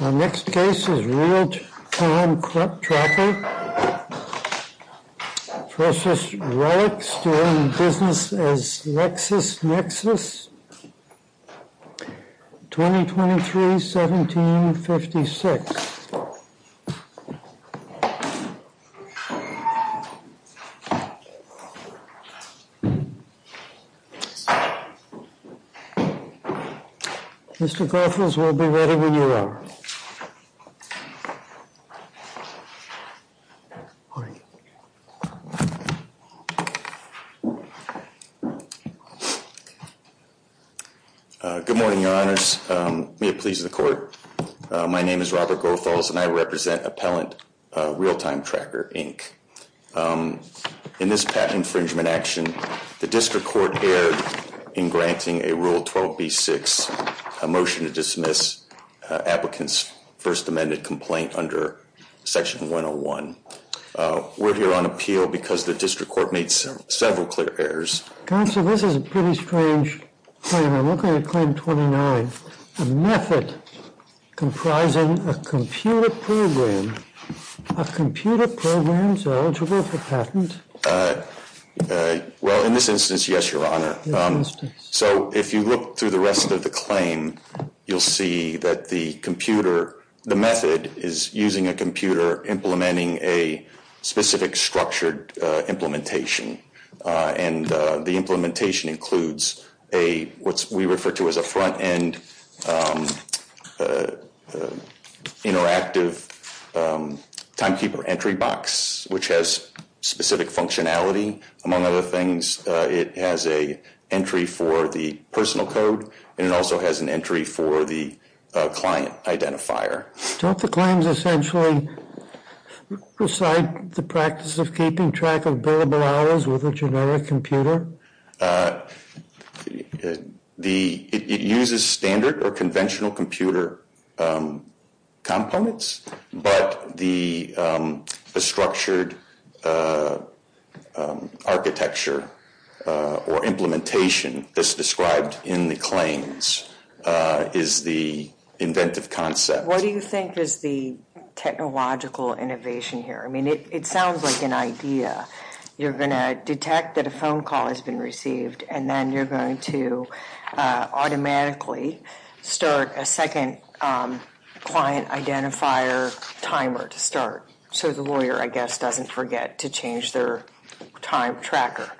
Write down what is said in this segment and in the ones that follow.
Our next case is Realtime Tracker v. RELX, doing business as LexisNexis, 2023-17-56. Mr. Goethals, we'll be ready when you are. Good morning, Your Honors. May it please the Court. My name is Robert Goethals, and I represent Appellant Realtime Tracker, Inc. In this patent infringement action, the District Court erred in granting a Rule 12b-6, a motion to dismiss applicants' first amended complaint under Section 101. We're here on appeal because the District Court made several clear errors. Counsel, this is a pretty strange claim. I'm looking at Claim 29, a method comprising a computer program. Are computer programs eligible for patent? Well, in this instance, yes, Your Honor. So if you look through the rest of the claim, you'll see that the computer, the method is using a computer implementing a specific structured implementation, and the implementation includes what we refer to as a front-end interactive timekeeper entry box, which has specific functionality. Among other things, it has an entry for the personal code, and it also has an entry for the client identifier. Don't the claims essentially recite the practice of keeping track of billable hours with a generic computer? It uses standard or conventional computer components, but the structured architecture or implementation that's described in the claims is the inventive concept. What do you think is the technological innovation here? I mean, it sounds like an idea. You're going to detect that a phone call has been received, and then you're going to automatically start a second client identifier timer to start, so the lawyer, I guess, doesn't forget to change their time tracker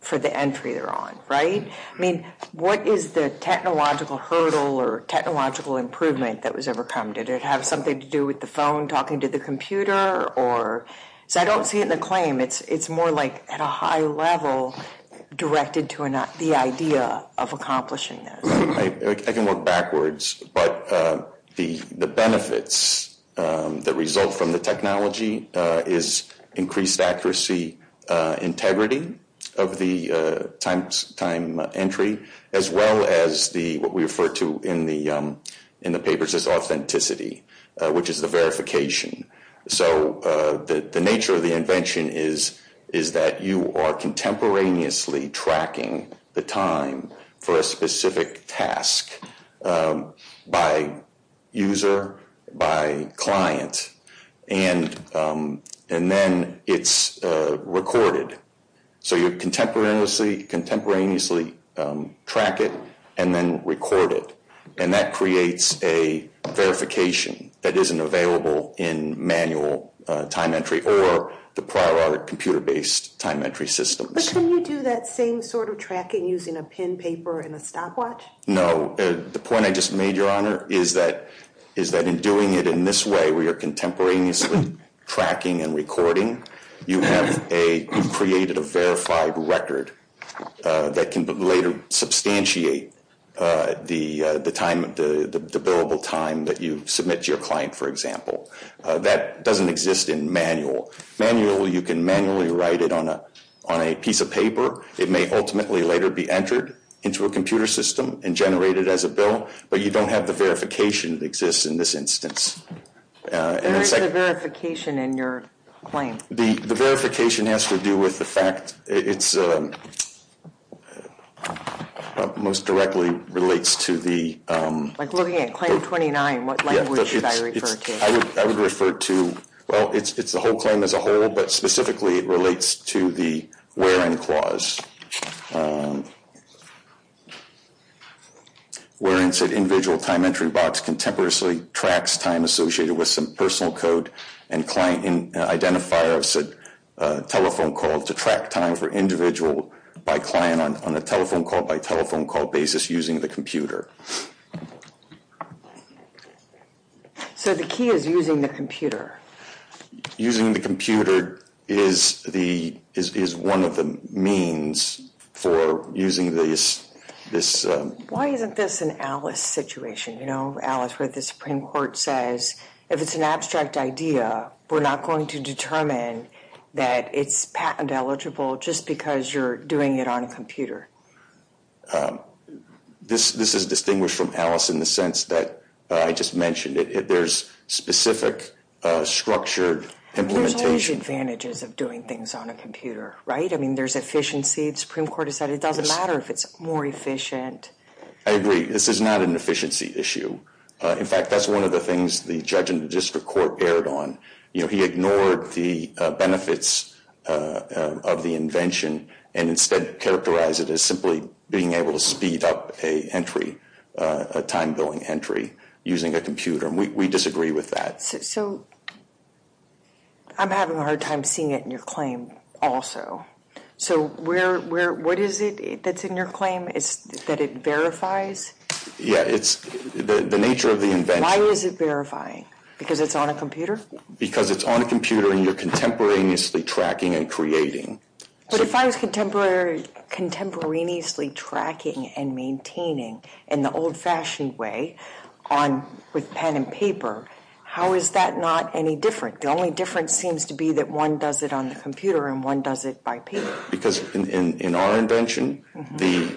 for the entry they're on, right? I mean, what is the technological hurdle or technological improvement that was overcome? Did it have something to do with the phone talking to the computer? I don't see it in the claim. It's more like at a high level directed to the idea of accomplishing this. I can look backwards, but the benefits that result from the technology is increased accuracy, integrity of the time entry, as well as what we refer to in the papers as authenticity, which is the verification. So the nature of the invention is that you are contemporaneously tracking the time for a specific task by user, by client, and then it's recorded, so you contemporaneously track it and then record it, and that creates a verification that isn't available in manual time entry or the prior audit computer-based time entry systems. But can you do that same sort of tracking using a pen, paper, and a stopwatch? No. The point I just made, Your Honor, is that in doing it in this way, where you're contemporaneously tracking and recording, you've created a verified record that can later substantiate the billable time that you submit to your client, for example. That doesn't exist in manual. You can manually write it on a piece of paper. It may ultimately later be entered into a computer system and generated as a bill, but you don't have the verification that exists in this instance. What is the verification in your claim? The verification has to do with the fact it most directly relates to the- Like looking at Claim 29, what language should I refer to? I would refer to, well, it's the whole claim as a whole, but specifically it relates to the where-in clause. Where-in said individual time entry box contemporaneously tracks time associated with some personal code and client identifier of said telephone call to track time for individual by client on a telephone call by telephone call basis using the computer. So the key is using the computer? Using the computer is one of the means for using this- Why isn't this an Alice situation? You know, Alice where the Supreme Court says, if it's an abstract idea, we're not going to determine that it's patent eligible just because you're doing it on a computer. This is distinguished from Alice in the sense that I just mentioned. There's specific structured implementation- There's always advantages of doing things on a computer, right? I mean, there's efficiency. The Supreme Court has said it doesn't matter if it's more efficient. I agree. This is not an efficiency issue. In fact, that's one of the things the judge in the district court erred on. He ignored the benefits of the invention and instead characterized it as simply being able to speed up a time billing entry using a computer. We disagree with that. So I'm having a hard time seeing it in your claim also. So what is it that's in your claim? Is that it verifies? Yeah, it's the nature of the invention- Why is it verifying? Because it's on a computer? Because it's on a computer and you're contemporaneously tracking and creating. But if I was contemporaneously tracking and maintaining in the old-fashioned way with pen and paper, how is that not any different? The only difference seems to be that one does it on the computer and one does it by paper. Because in our invention, the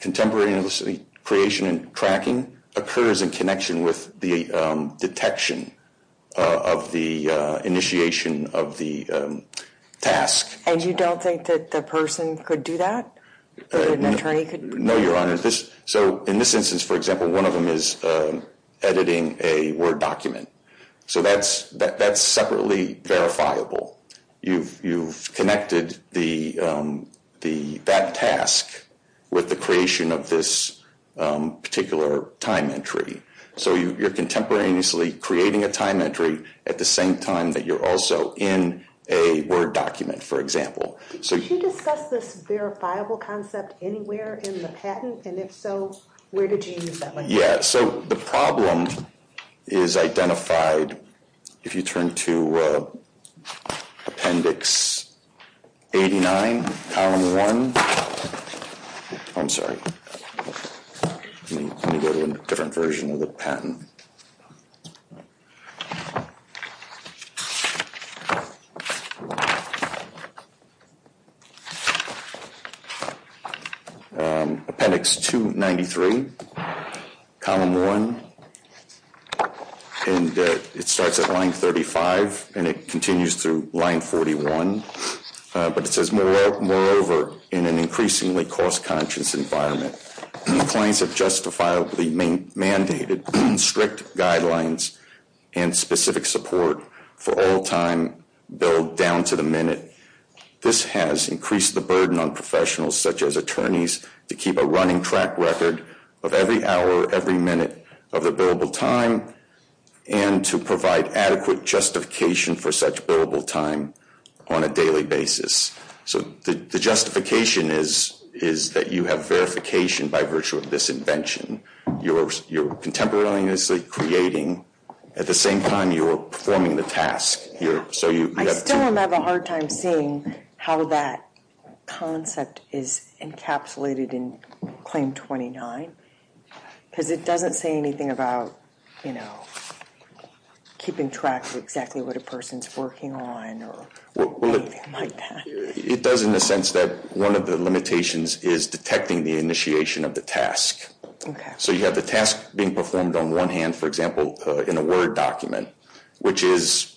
contemporary creation and tracking occurs in connection with the detection of the initiation of the task. And you don't think that the person could do that? That an attorney could- No, Your Honor. So in this instance, for example, one of them is editing a Word document. So that's separately verifiable. You've connected that task with the creation of this particular time entry. So you're contemporaneously creating a time entry at the same time that you're also in a Word document, for example. Did you discuss this verifiable concept anywhere in the patent? And if so, where did you use that one? Yeah, so the problem is identified if you turn to Appendix 89, Column 1. I'm sorry. Let me go to a different version of the patent. Appendix 293, Column 1. And it starts at Line 35 and it continues through Line 41. But it says, moreover, in an increasingly cost-conscious environment, clients have justifiably mandated strict guidelines and specific support for all time billed down to the minute. This has increased the burden on professionals, such as attorneys, to keep a running track record of every hour, every minute of their billable time, and to provide adequate justification for such billable time on a daily basis. So the justification is that you have verification by virtue of this invention. You're contemporaneously creating. At the same time, you're performing the task. I still have a hard time seeing how that concept is encapsulated in Claim 29, because it doesn't say anything about keeping track of exactly what a person's working on or anything like that. It does in the sense that one of the limitations is detecting the initiation of the task. Okay. So you have the task being performed on one hand, for example, in a Word document, which is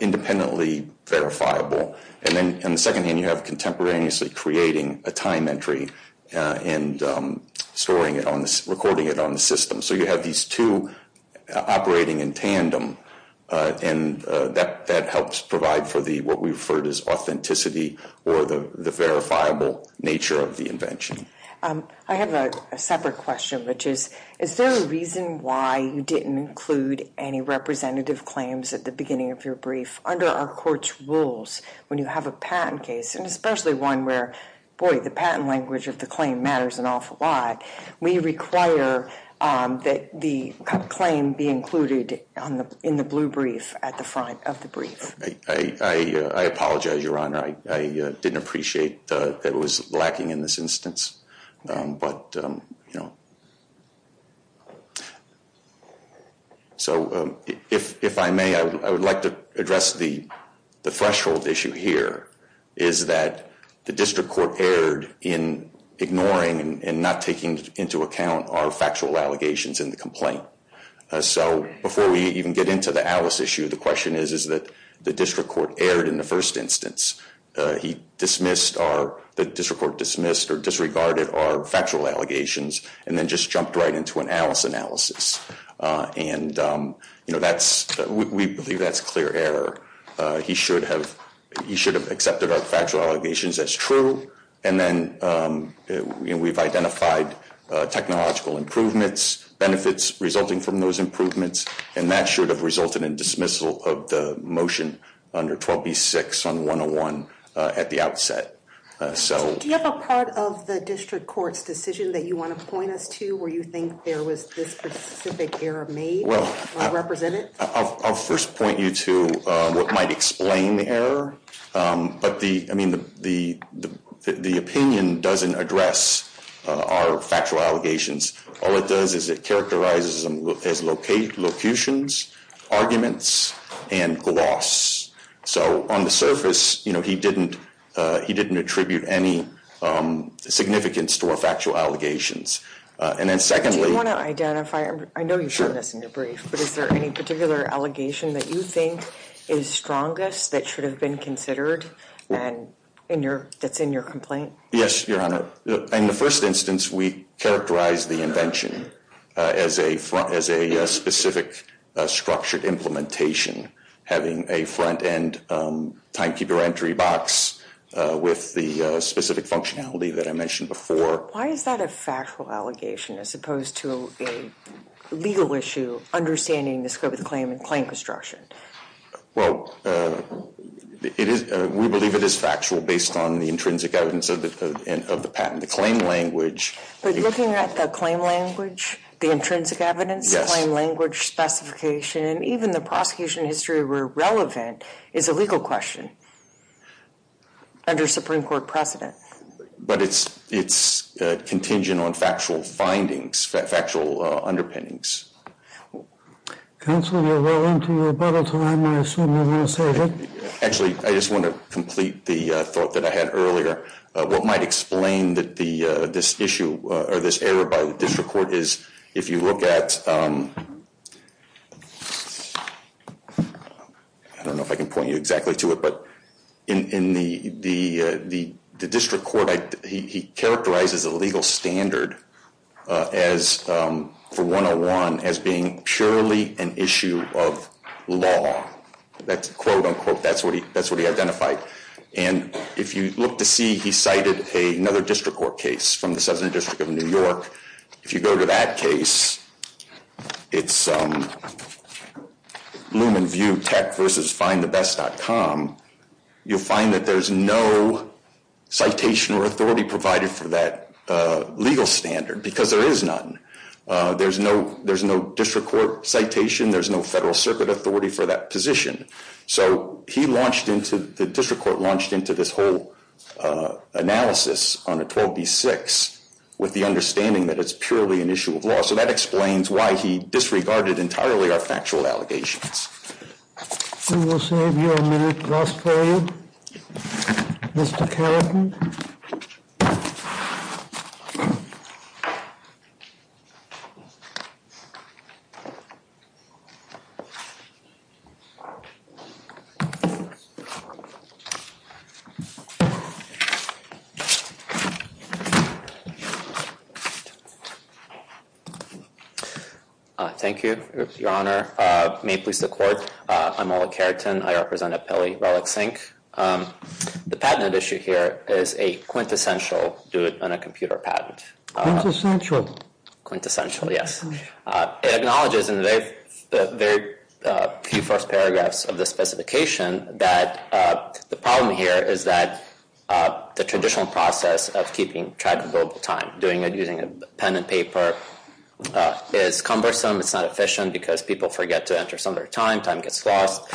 independently verifiable. And then on the second hand, you have contemporaneously creating a time entry and recording it on the system. So you have these two operating in tandem, and that helps provide for what we refer to as authenticity or the verifiable nature of the invention. I have a separate question, which is, is there a reason why you didn't include any representative claims at the beginning of your brief? Under our court's rules, when you have a patent case, and especially one where, boy, the patent language of the claim matters an awful lot, we require that the claim be included in the blue brief at the front of the brief. I apologize, Your Honor. I didn't appreciate that it was lacking in this instance. But, you know. So if I may, I would like to address the threshold issue here, is that the district court erred in ignoring and not taking into account our factual allegations in the complaint. So before we even get into the Alice issue, the question is, is that the district court erred in the first instance. He dismissed our, the district court dismissed or disregarded our factual allegations, and then just jumped right into an Alice analysis. And, you know, we believe that's clear error. He should have accepted our factual allegations as true, and then we've identified technological improvements, benefits resulting from those improvements, and that should have resulted in dismissal of the motion under 12B6 on 101 at the outset. So- Do you have a part of the district court's decision that you want to point us to where you think there was this specific error made or represented? I'll first point you to what might explain the error. But the, I mean, the opinion doesn't address our factual allegations. All it does is it characterizes them as locutions, arguments, and gloss. So on the surface, you know, he didn't attribute any significance to our factual allegations. And then secondly- Do you want to identify, I know you've shown this in your brief, but is there any particular allegation that you think is strongest that should have been considered that's in your complaint? Yes, Your Honor. In the first instance, we characterized the invention as a specific structured implementation, having a front-end timekeeper entry box with the specific functionality that I mentioned before. Why is that a factual allegation as opposed to a legal issue, understanding the scope of the claim and claim construction? Well, we believe it is factual based on the intrinsic evidence of the patent. The claim language- But looking at the claim language, the intrinsic evidence, the claim language specification, and even the prosecution history where relevant is a legal question under Supreme Court precedent. But it's contingent on factual findings, factual underpinnings. Counsel, you're well into your bubble time. I assume you're going to save it. Actually, I just want to complete the thought that I had earlier. What might explain this issue or this error by the district court is if you look at- I don't know if I can point you exactly to it, but in the district court, he characterizes a legal standard for 101 as being purely an issue of law. That's quote, unquote, that's what he identified. And if you look to see, he cited another district court case from the Southern District of New York. If you go to that case, it's Loom and View Tech versus FindtheBest.com. You'll find that there's no citation or authority provided for that legal standard because there is none. There's no district court citation. There's no federal circuit authority for that position. So the district court launched into this whole analysis on a 12B6 with the understanding that it's purely an issue of law. So that explains why he disregarded entirely our factual allegations. We will save you a minute, last period. Mr. Carrington. Thank you, Your Honor. May it please the court, I'm Oleg Carrington. I represent Appellee Relic Sync. The patent issue here is a quintessential do it on a computer patent. Quintessential, yes. It acknowledges in the very few first paragraphs of the specification that the problem here is that the traditional process of keeping track of billable time, doing it using a pen and paper, is cumbersome. It's not efficient because people forget to enter some of their time. Time gets lost.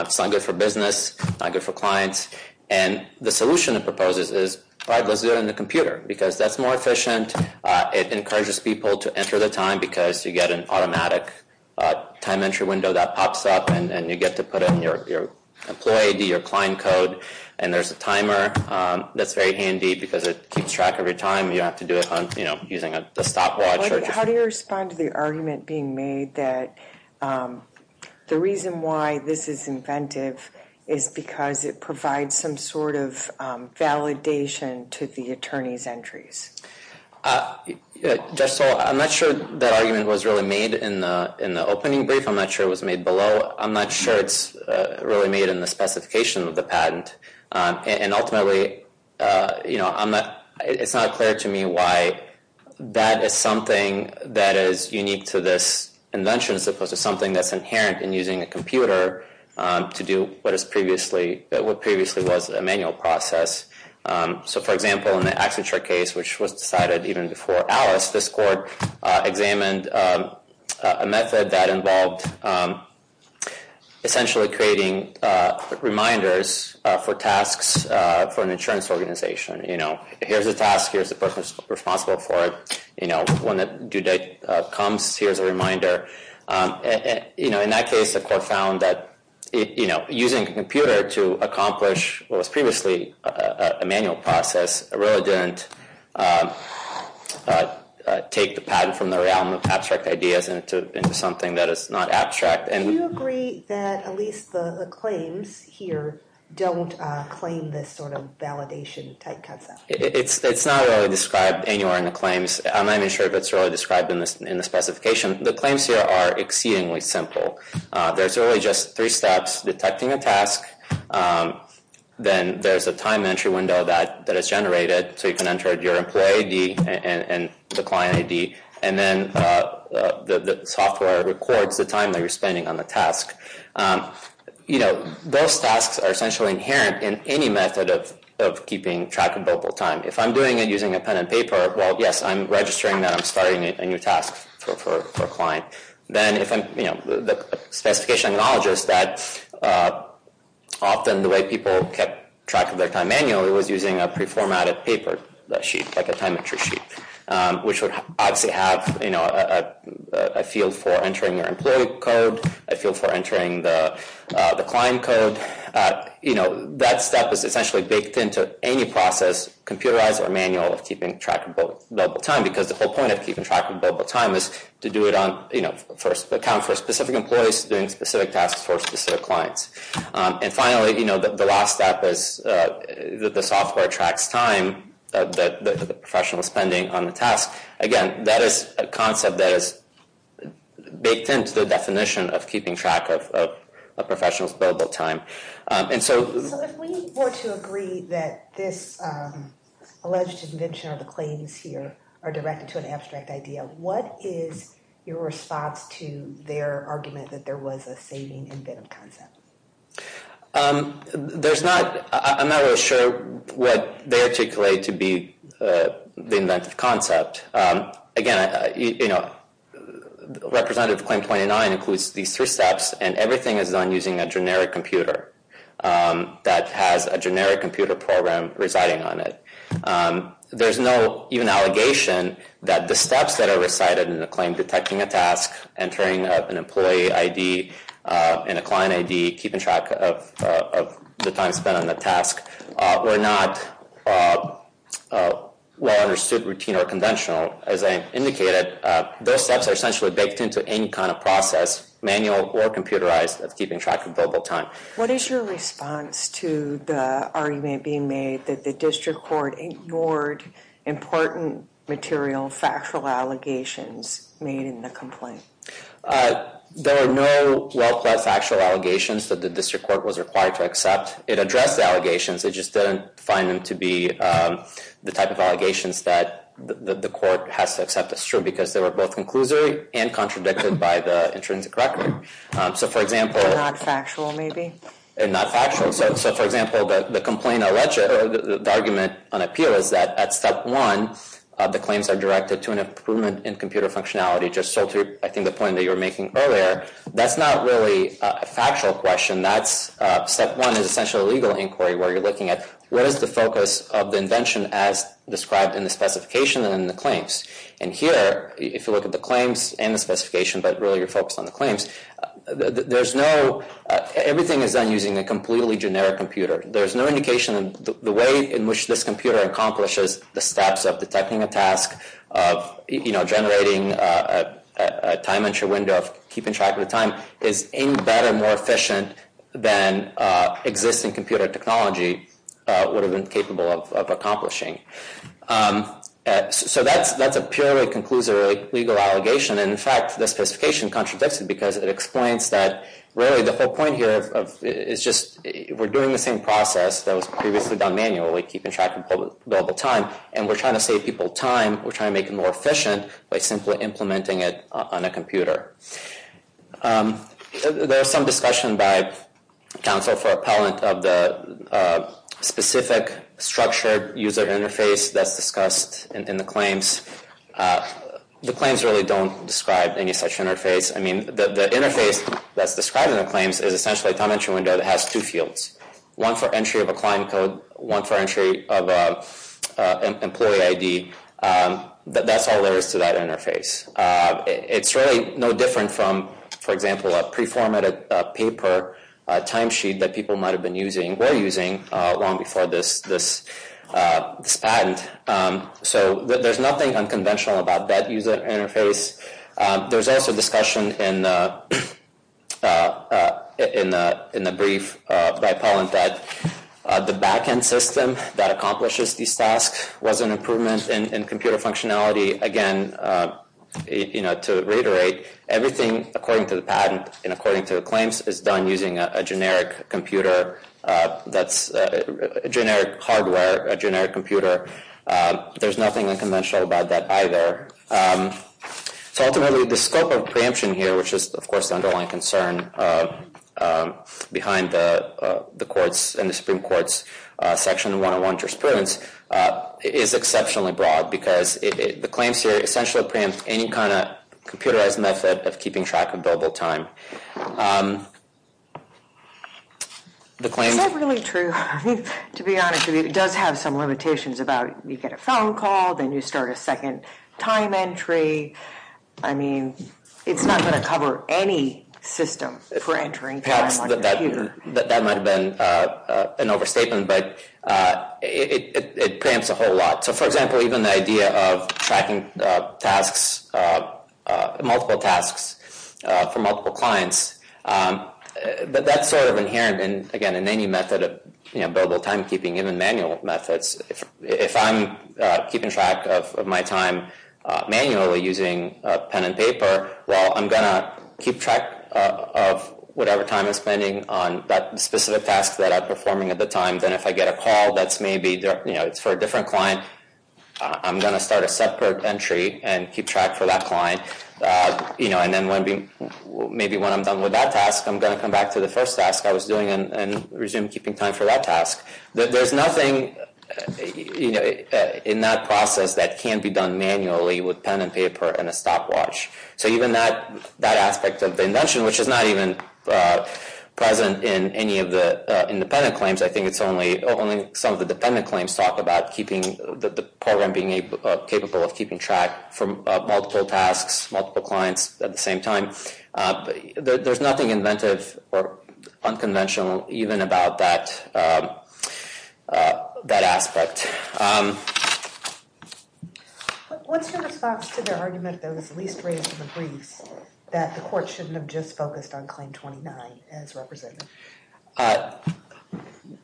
It's not good for business, not good for clients. And the solution it proposes is, all right, let's do it on the computer because that's more efficient. It encourages people to enter the time because you get an automatic time entry window that pops up, and you get to put in your employee ID, your client code, and there's a timer that's very handy because it keeps track of your time. You don't have to do it on, you know, using a stopwatch. How do you respond to the argument being made that the reason why this is inventive is because it provides some sort of validation to the attorney's entries? Judge Stoll, I'm not sure that argument was really made in the opening brief. I'm not sure it was made below. I'm not sure it's really made in the specification of the patent. And ultimately, you know, it's not clear to me why that is something that is unique to this invention as opposed to something that's inherent in using a computer to do what previously was a manual process. So, for example, in the Accenture case, which was decided even before Alice, this court examined a method that involved essentially creating reminders for tasks for an insurance organization. You know, here's a task. Here's the person responsible for it. You know, when the due date comes, here's a reminder. You know, in that case, the court found that, you know, using a computer to accomplish what was previously a manual process really didn't take the patent from the realm of abstract ideas into something that is not abstract. Do you agree that at least the claims here don't claim this sort of validation type concept? It's not really described anywhere in the claims. I'm not even sure if it's really described in the specification. The claims here are exceedingly simple. There's really just three steps, detecting a task. Then there's a time entry window that is generated, so you can enter your employee ID and the client ID. And then the software records the time that you're spending on the task. You know, those tasks are essentially inherent in any method of keeping track of billable time. If I'm doing it using a pen and paper, well, yes, I'm registering that I'm starting a new task for a client. Then if I'm, you know, the specification acknowledges that often the way people kept track of their time manually was using a preformatted paper sheet, like a time entry sheet, which would obviously have, you know, a field for entering your employee code, a field for entering the client code. You know, that step is essentially baked into any process, computerized or manual, of keeping track of billable time. Because the whole point of keeping track of billable time is to do it on, you know, account for specific employees doing specific tasks for specific clients. And finally, you know, the last step is that the software tracks time that the professional is spending on the task. Again, that is a concept that is baked into the definition of keeping track of a professional's billable time. And so... So if we were to agree that this alleged invention or the claims here are directed to an abstract idea, what is your response to their argument that there was a saving inventive concept? There's not... I'm not really sure what they articulate to be the inventive concept. Again, you know, Representative Claim 29 includes these three steps, and everything is done using a generic computer that has a generic computer program residing on it. There's no even allegation that the steps that are recited in the claim detecting a task, entering an employee ID and a client ID, keeping track of the time spent on the task, were not well understood, routine, or conventional. As I indicated, those steps are essentially baked into any kind of process, manual or computerized, of keeping track of billable time. What is your response to the argument being made that the district court ignored important material, factual allegations made in the complaint? There are no well-planned factual allegations that the district court was required to accept. It addressed the allegations, it just didn't find them to be the type of allegations that the court has to accept as true, because they were both conclusory and contradicted by the intrinsic record. So, for example... They're not factual, maybe? They're not factual. So, for example, the argument on appeal is that at step one, the claims are directed to an improvement in computer functionality, just so to, I think, the point that you were making earlier. That's not really a factual question. Step one is essentially a legal inquiry where you're looking at, what is the focus of the invention as described in the specification and in the claims? And here, if you look at the claims and the specification, but really you're focused on the claims, everything is done using a completely generic computer. There's no indication that the way in which this computer accomplishes the steps of detecting a task, of generating a time entry window, of keeping track of the time, is any better, more efficient than existing computer technology would have been capable of accomplishing. So, that's a purely conclusory legal allegation. And, in fact, the specification contradicts it because it explains that, really, the whole point here is just we're doing the same process that was previously done manually, keeping track of available time, and we're trying to save people time. We're trying to make it more efficient by simply implementing it on a computer. There's some discussion by counsel for appellant of the specific structured user interface that's discussed in the claims. The claims really don't describe any such interface. I mean, the interface that's described in the claims is essentially a time entry window that has two fields, one for entry of a client code, one for entry of an employee ID. That's all there is to that interface. It's really no different from, for example, a pre-formatted paper timesheet that people might have been using or were using long before this patent. So, there's nothing unconventional about that user interface. There's also discussion in the brief by appellant that the back-end system that accomplishes these tasks was an improvement in computer functionality. Again, to reiterate, everything, according to the patent and according to the claims, is done using a generic hardware, a generic computer. There's nothing unconventional about that either. So, ultimately, the scope of preemption here, which is, of course, the underlying concern behind the Supreme Court's section 101 jurisprudence, is exceptionally broad because the claims here essentially preempt any kind of computerized method of keeping track of billable time. Is that really true? I mean, to be honest with you, it does have some limitations about you get a phone call, then you start a second time entry. I mean, it's not going to cover any system for entering time on your computer. Perhaps that might have been an overstatement, but it preempts a whole lot. So, for example, even the idea of tracking tasks, multiple tasks for multiple clients, that's sort of inherent, again, in any method of billable timekeeping, even manual methods. If I'm keeping track of my time manually using pen and paper, well, I'm going to keep track of whatever time I'm spending on that specific task that I'm performing at the time. Then if I get a call that's maybe for a different client, I'm going to start a separate entry and keep track for that client. And then maybe when I'm done with that task, I'm going to come back to the first task I was doing and resume keeping time for that task. There's nothing in that process that can be done manually with pen and paper and a stopwatch. So even that aspect of the invention, which is not even present in any of the independent claims, I think it's only some of the dependent claims talk about the program being capable of keeping track for multiple tasks, multiple clients at the same time. There's nothing inventive or unconventional even about that aspect. What's your response to the argument that was least raised in the briefs that the court shouldn't have just focused on Claim 29 as representative?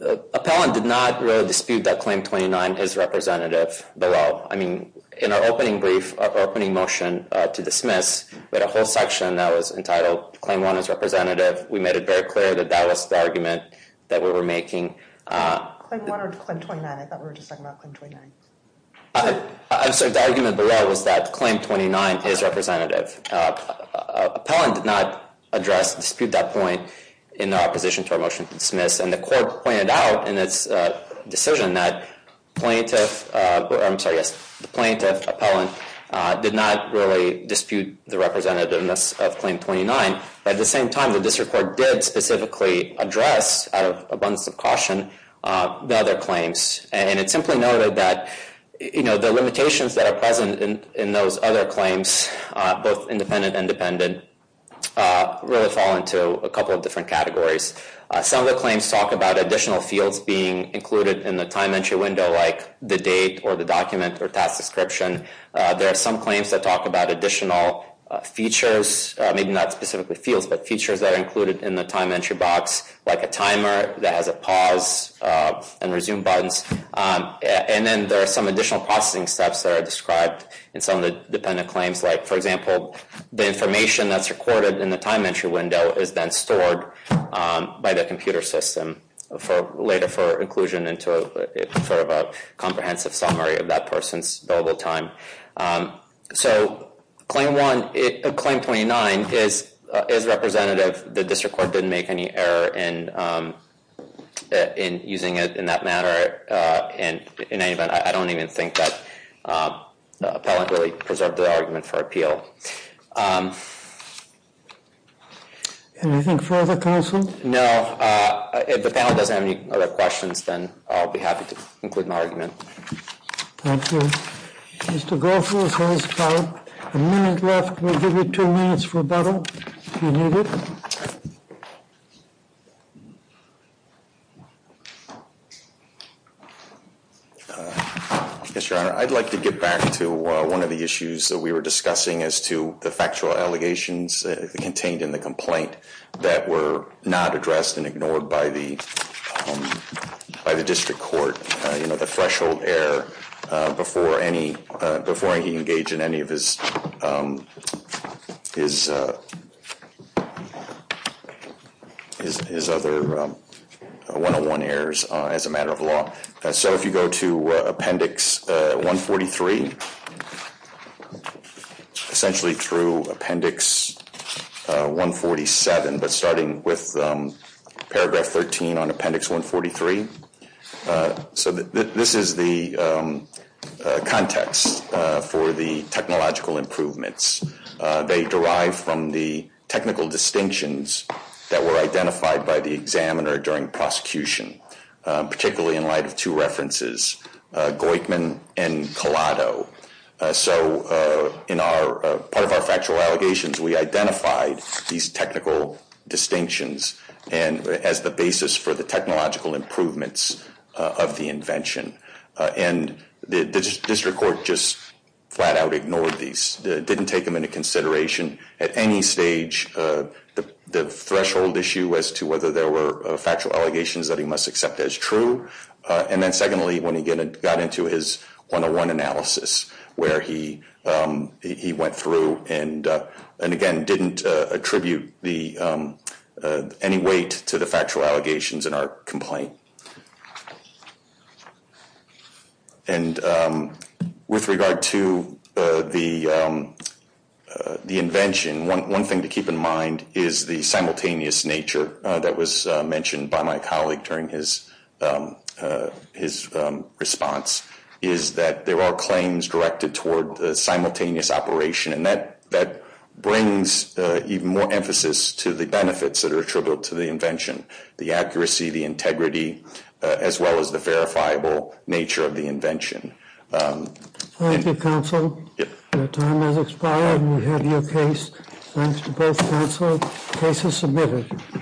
Appellant did not really dispute that Claim 29 is representative below. I mean, in our opening brief, our opening motion to dismiss, we had a whole section that was entitled Claim 1 is representative. We made it very clear that that was the argument that we were making. Claim 1 or Claim 29? I thought we were just talking about Claim 29. I'm sorry. The argument below was that Claim 29 is representative. Appellant did not address, dispute that point in opposition to our motion to dismiss. And the court pointed out in its decision that the plaintiff appellant did not really dispute the representativeness of Claim 29. But at the same time, the district court did specifically address, out of abundance of caution, the other claims. And it simply noted that the limitations that are present in those other claims, both independent and dependent, really fall into a couple of different categories. Some of the claims talk about additional fields being included in the time entry window, like the date or the document or task description. There are some claims that talk about additional features, maybe not specifically fields, but features that are included in the time entry box, like a timer that has a pause and resume buttons. And then there are some additional processing steps that are described in some of the dependent claims. Like, for example, the information that's recorded in the time entry window is then stored by the computer system later for inclusion into a comprehensive summary of that person's available time. So Claim 29 is representative. The district court didn't make any error in using it in that matter. And in any event, I don't even think that Appellant really preserved their argument for appeal. Anything further, counsel? No. If the panel doesn't have any other questions, then I'll be happy to include my argument. Thank you. Mr. Goethals has about a minute left. We'll give you two minutes for rebuttal, if you need it. Yes, Your Honor. I'd like to get back to one of the issues that we were discussing as to the factual allegations contained in the complaint that were not addressed and ignored by the district court. You know, the threshold error before he engaged in any of his other 101 errors as a matter of law. So if you go to Appendix 143, essentially through Appendix 147, but starting with Paragraph 13 on Appendix 143. So this is the context for the technological improvements. They derive from the technical distinctions that were identified by the examiner during prosecution, particularly in light of two references, Goitman and Collado. So part of our factual allegations, we identified these technical distinctions as the basis for the technological improvements of the invention. And the district court just flat out ignored these, didn't take them into consideration at any stage. The threshold issue as to whether there were factual allegations that he must accept as true. And then secondly, when he got into his 101 analysis, where he went through and, again, didn't attribute any weight to the factual allegations in our complaint. And with regard to the invention, one thing to keep in mind is the simultaneous nature that was mentioned by my colleague during his response. Is that there are claims directed toward the simultaneous operation, and that brings even more emphasis to the benefits that are attributable to the invention. The accuracy, the integrity, as well as the verifiable nature of the invention. Thank you, counsel. Your time has expired, and we have your case. Thanks to both counsel. Case is submitted.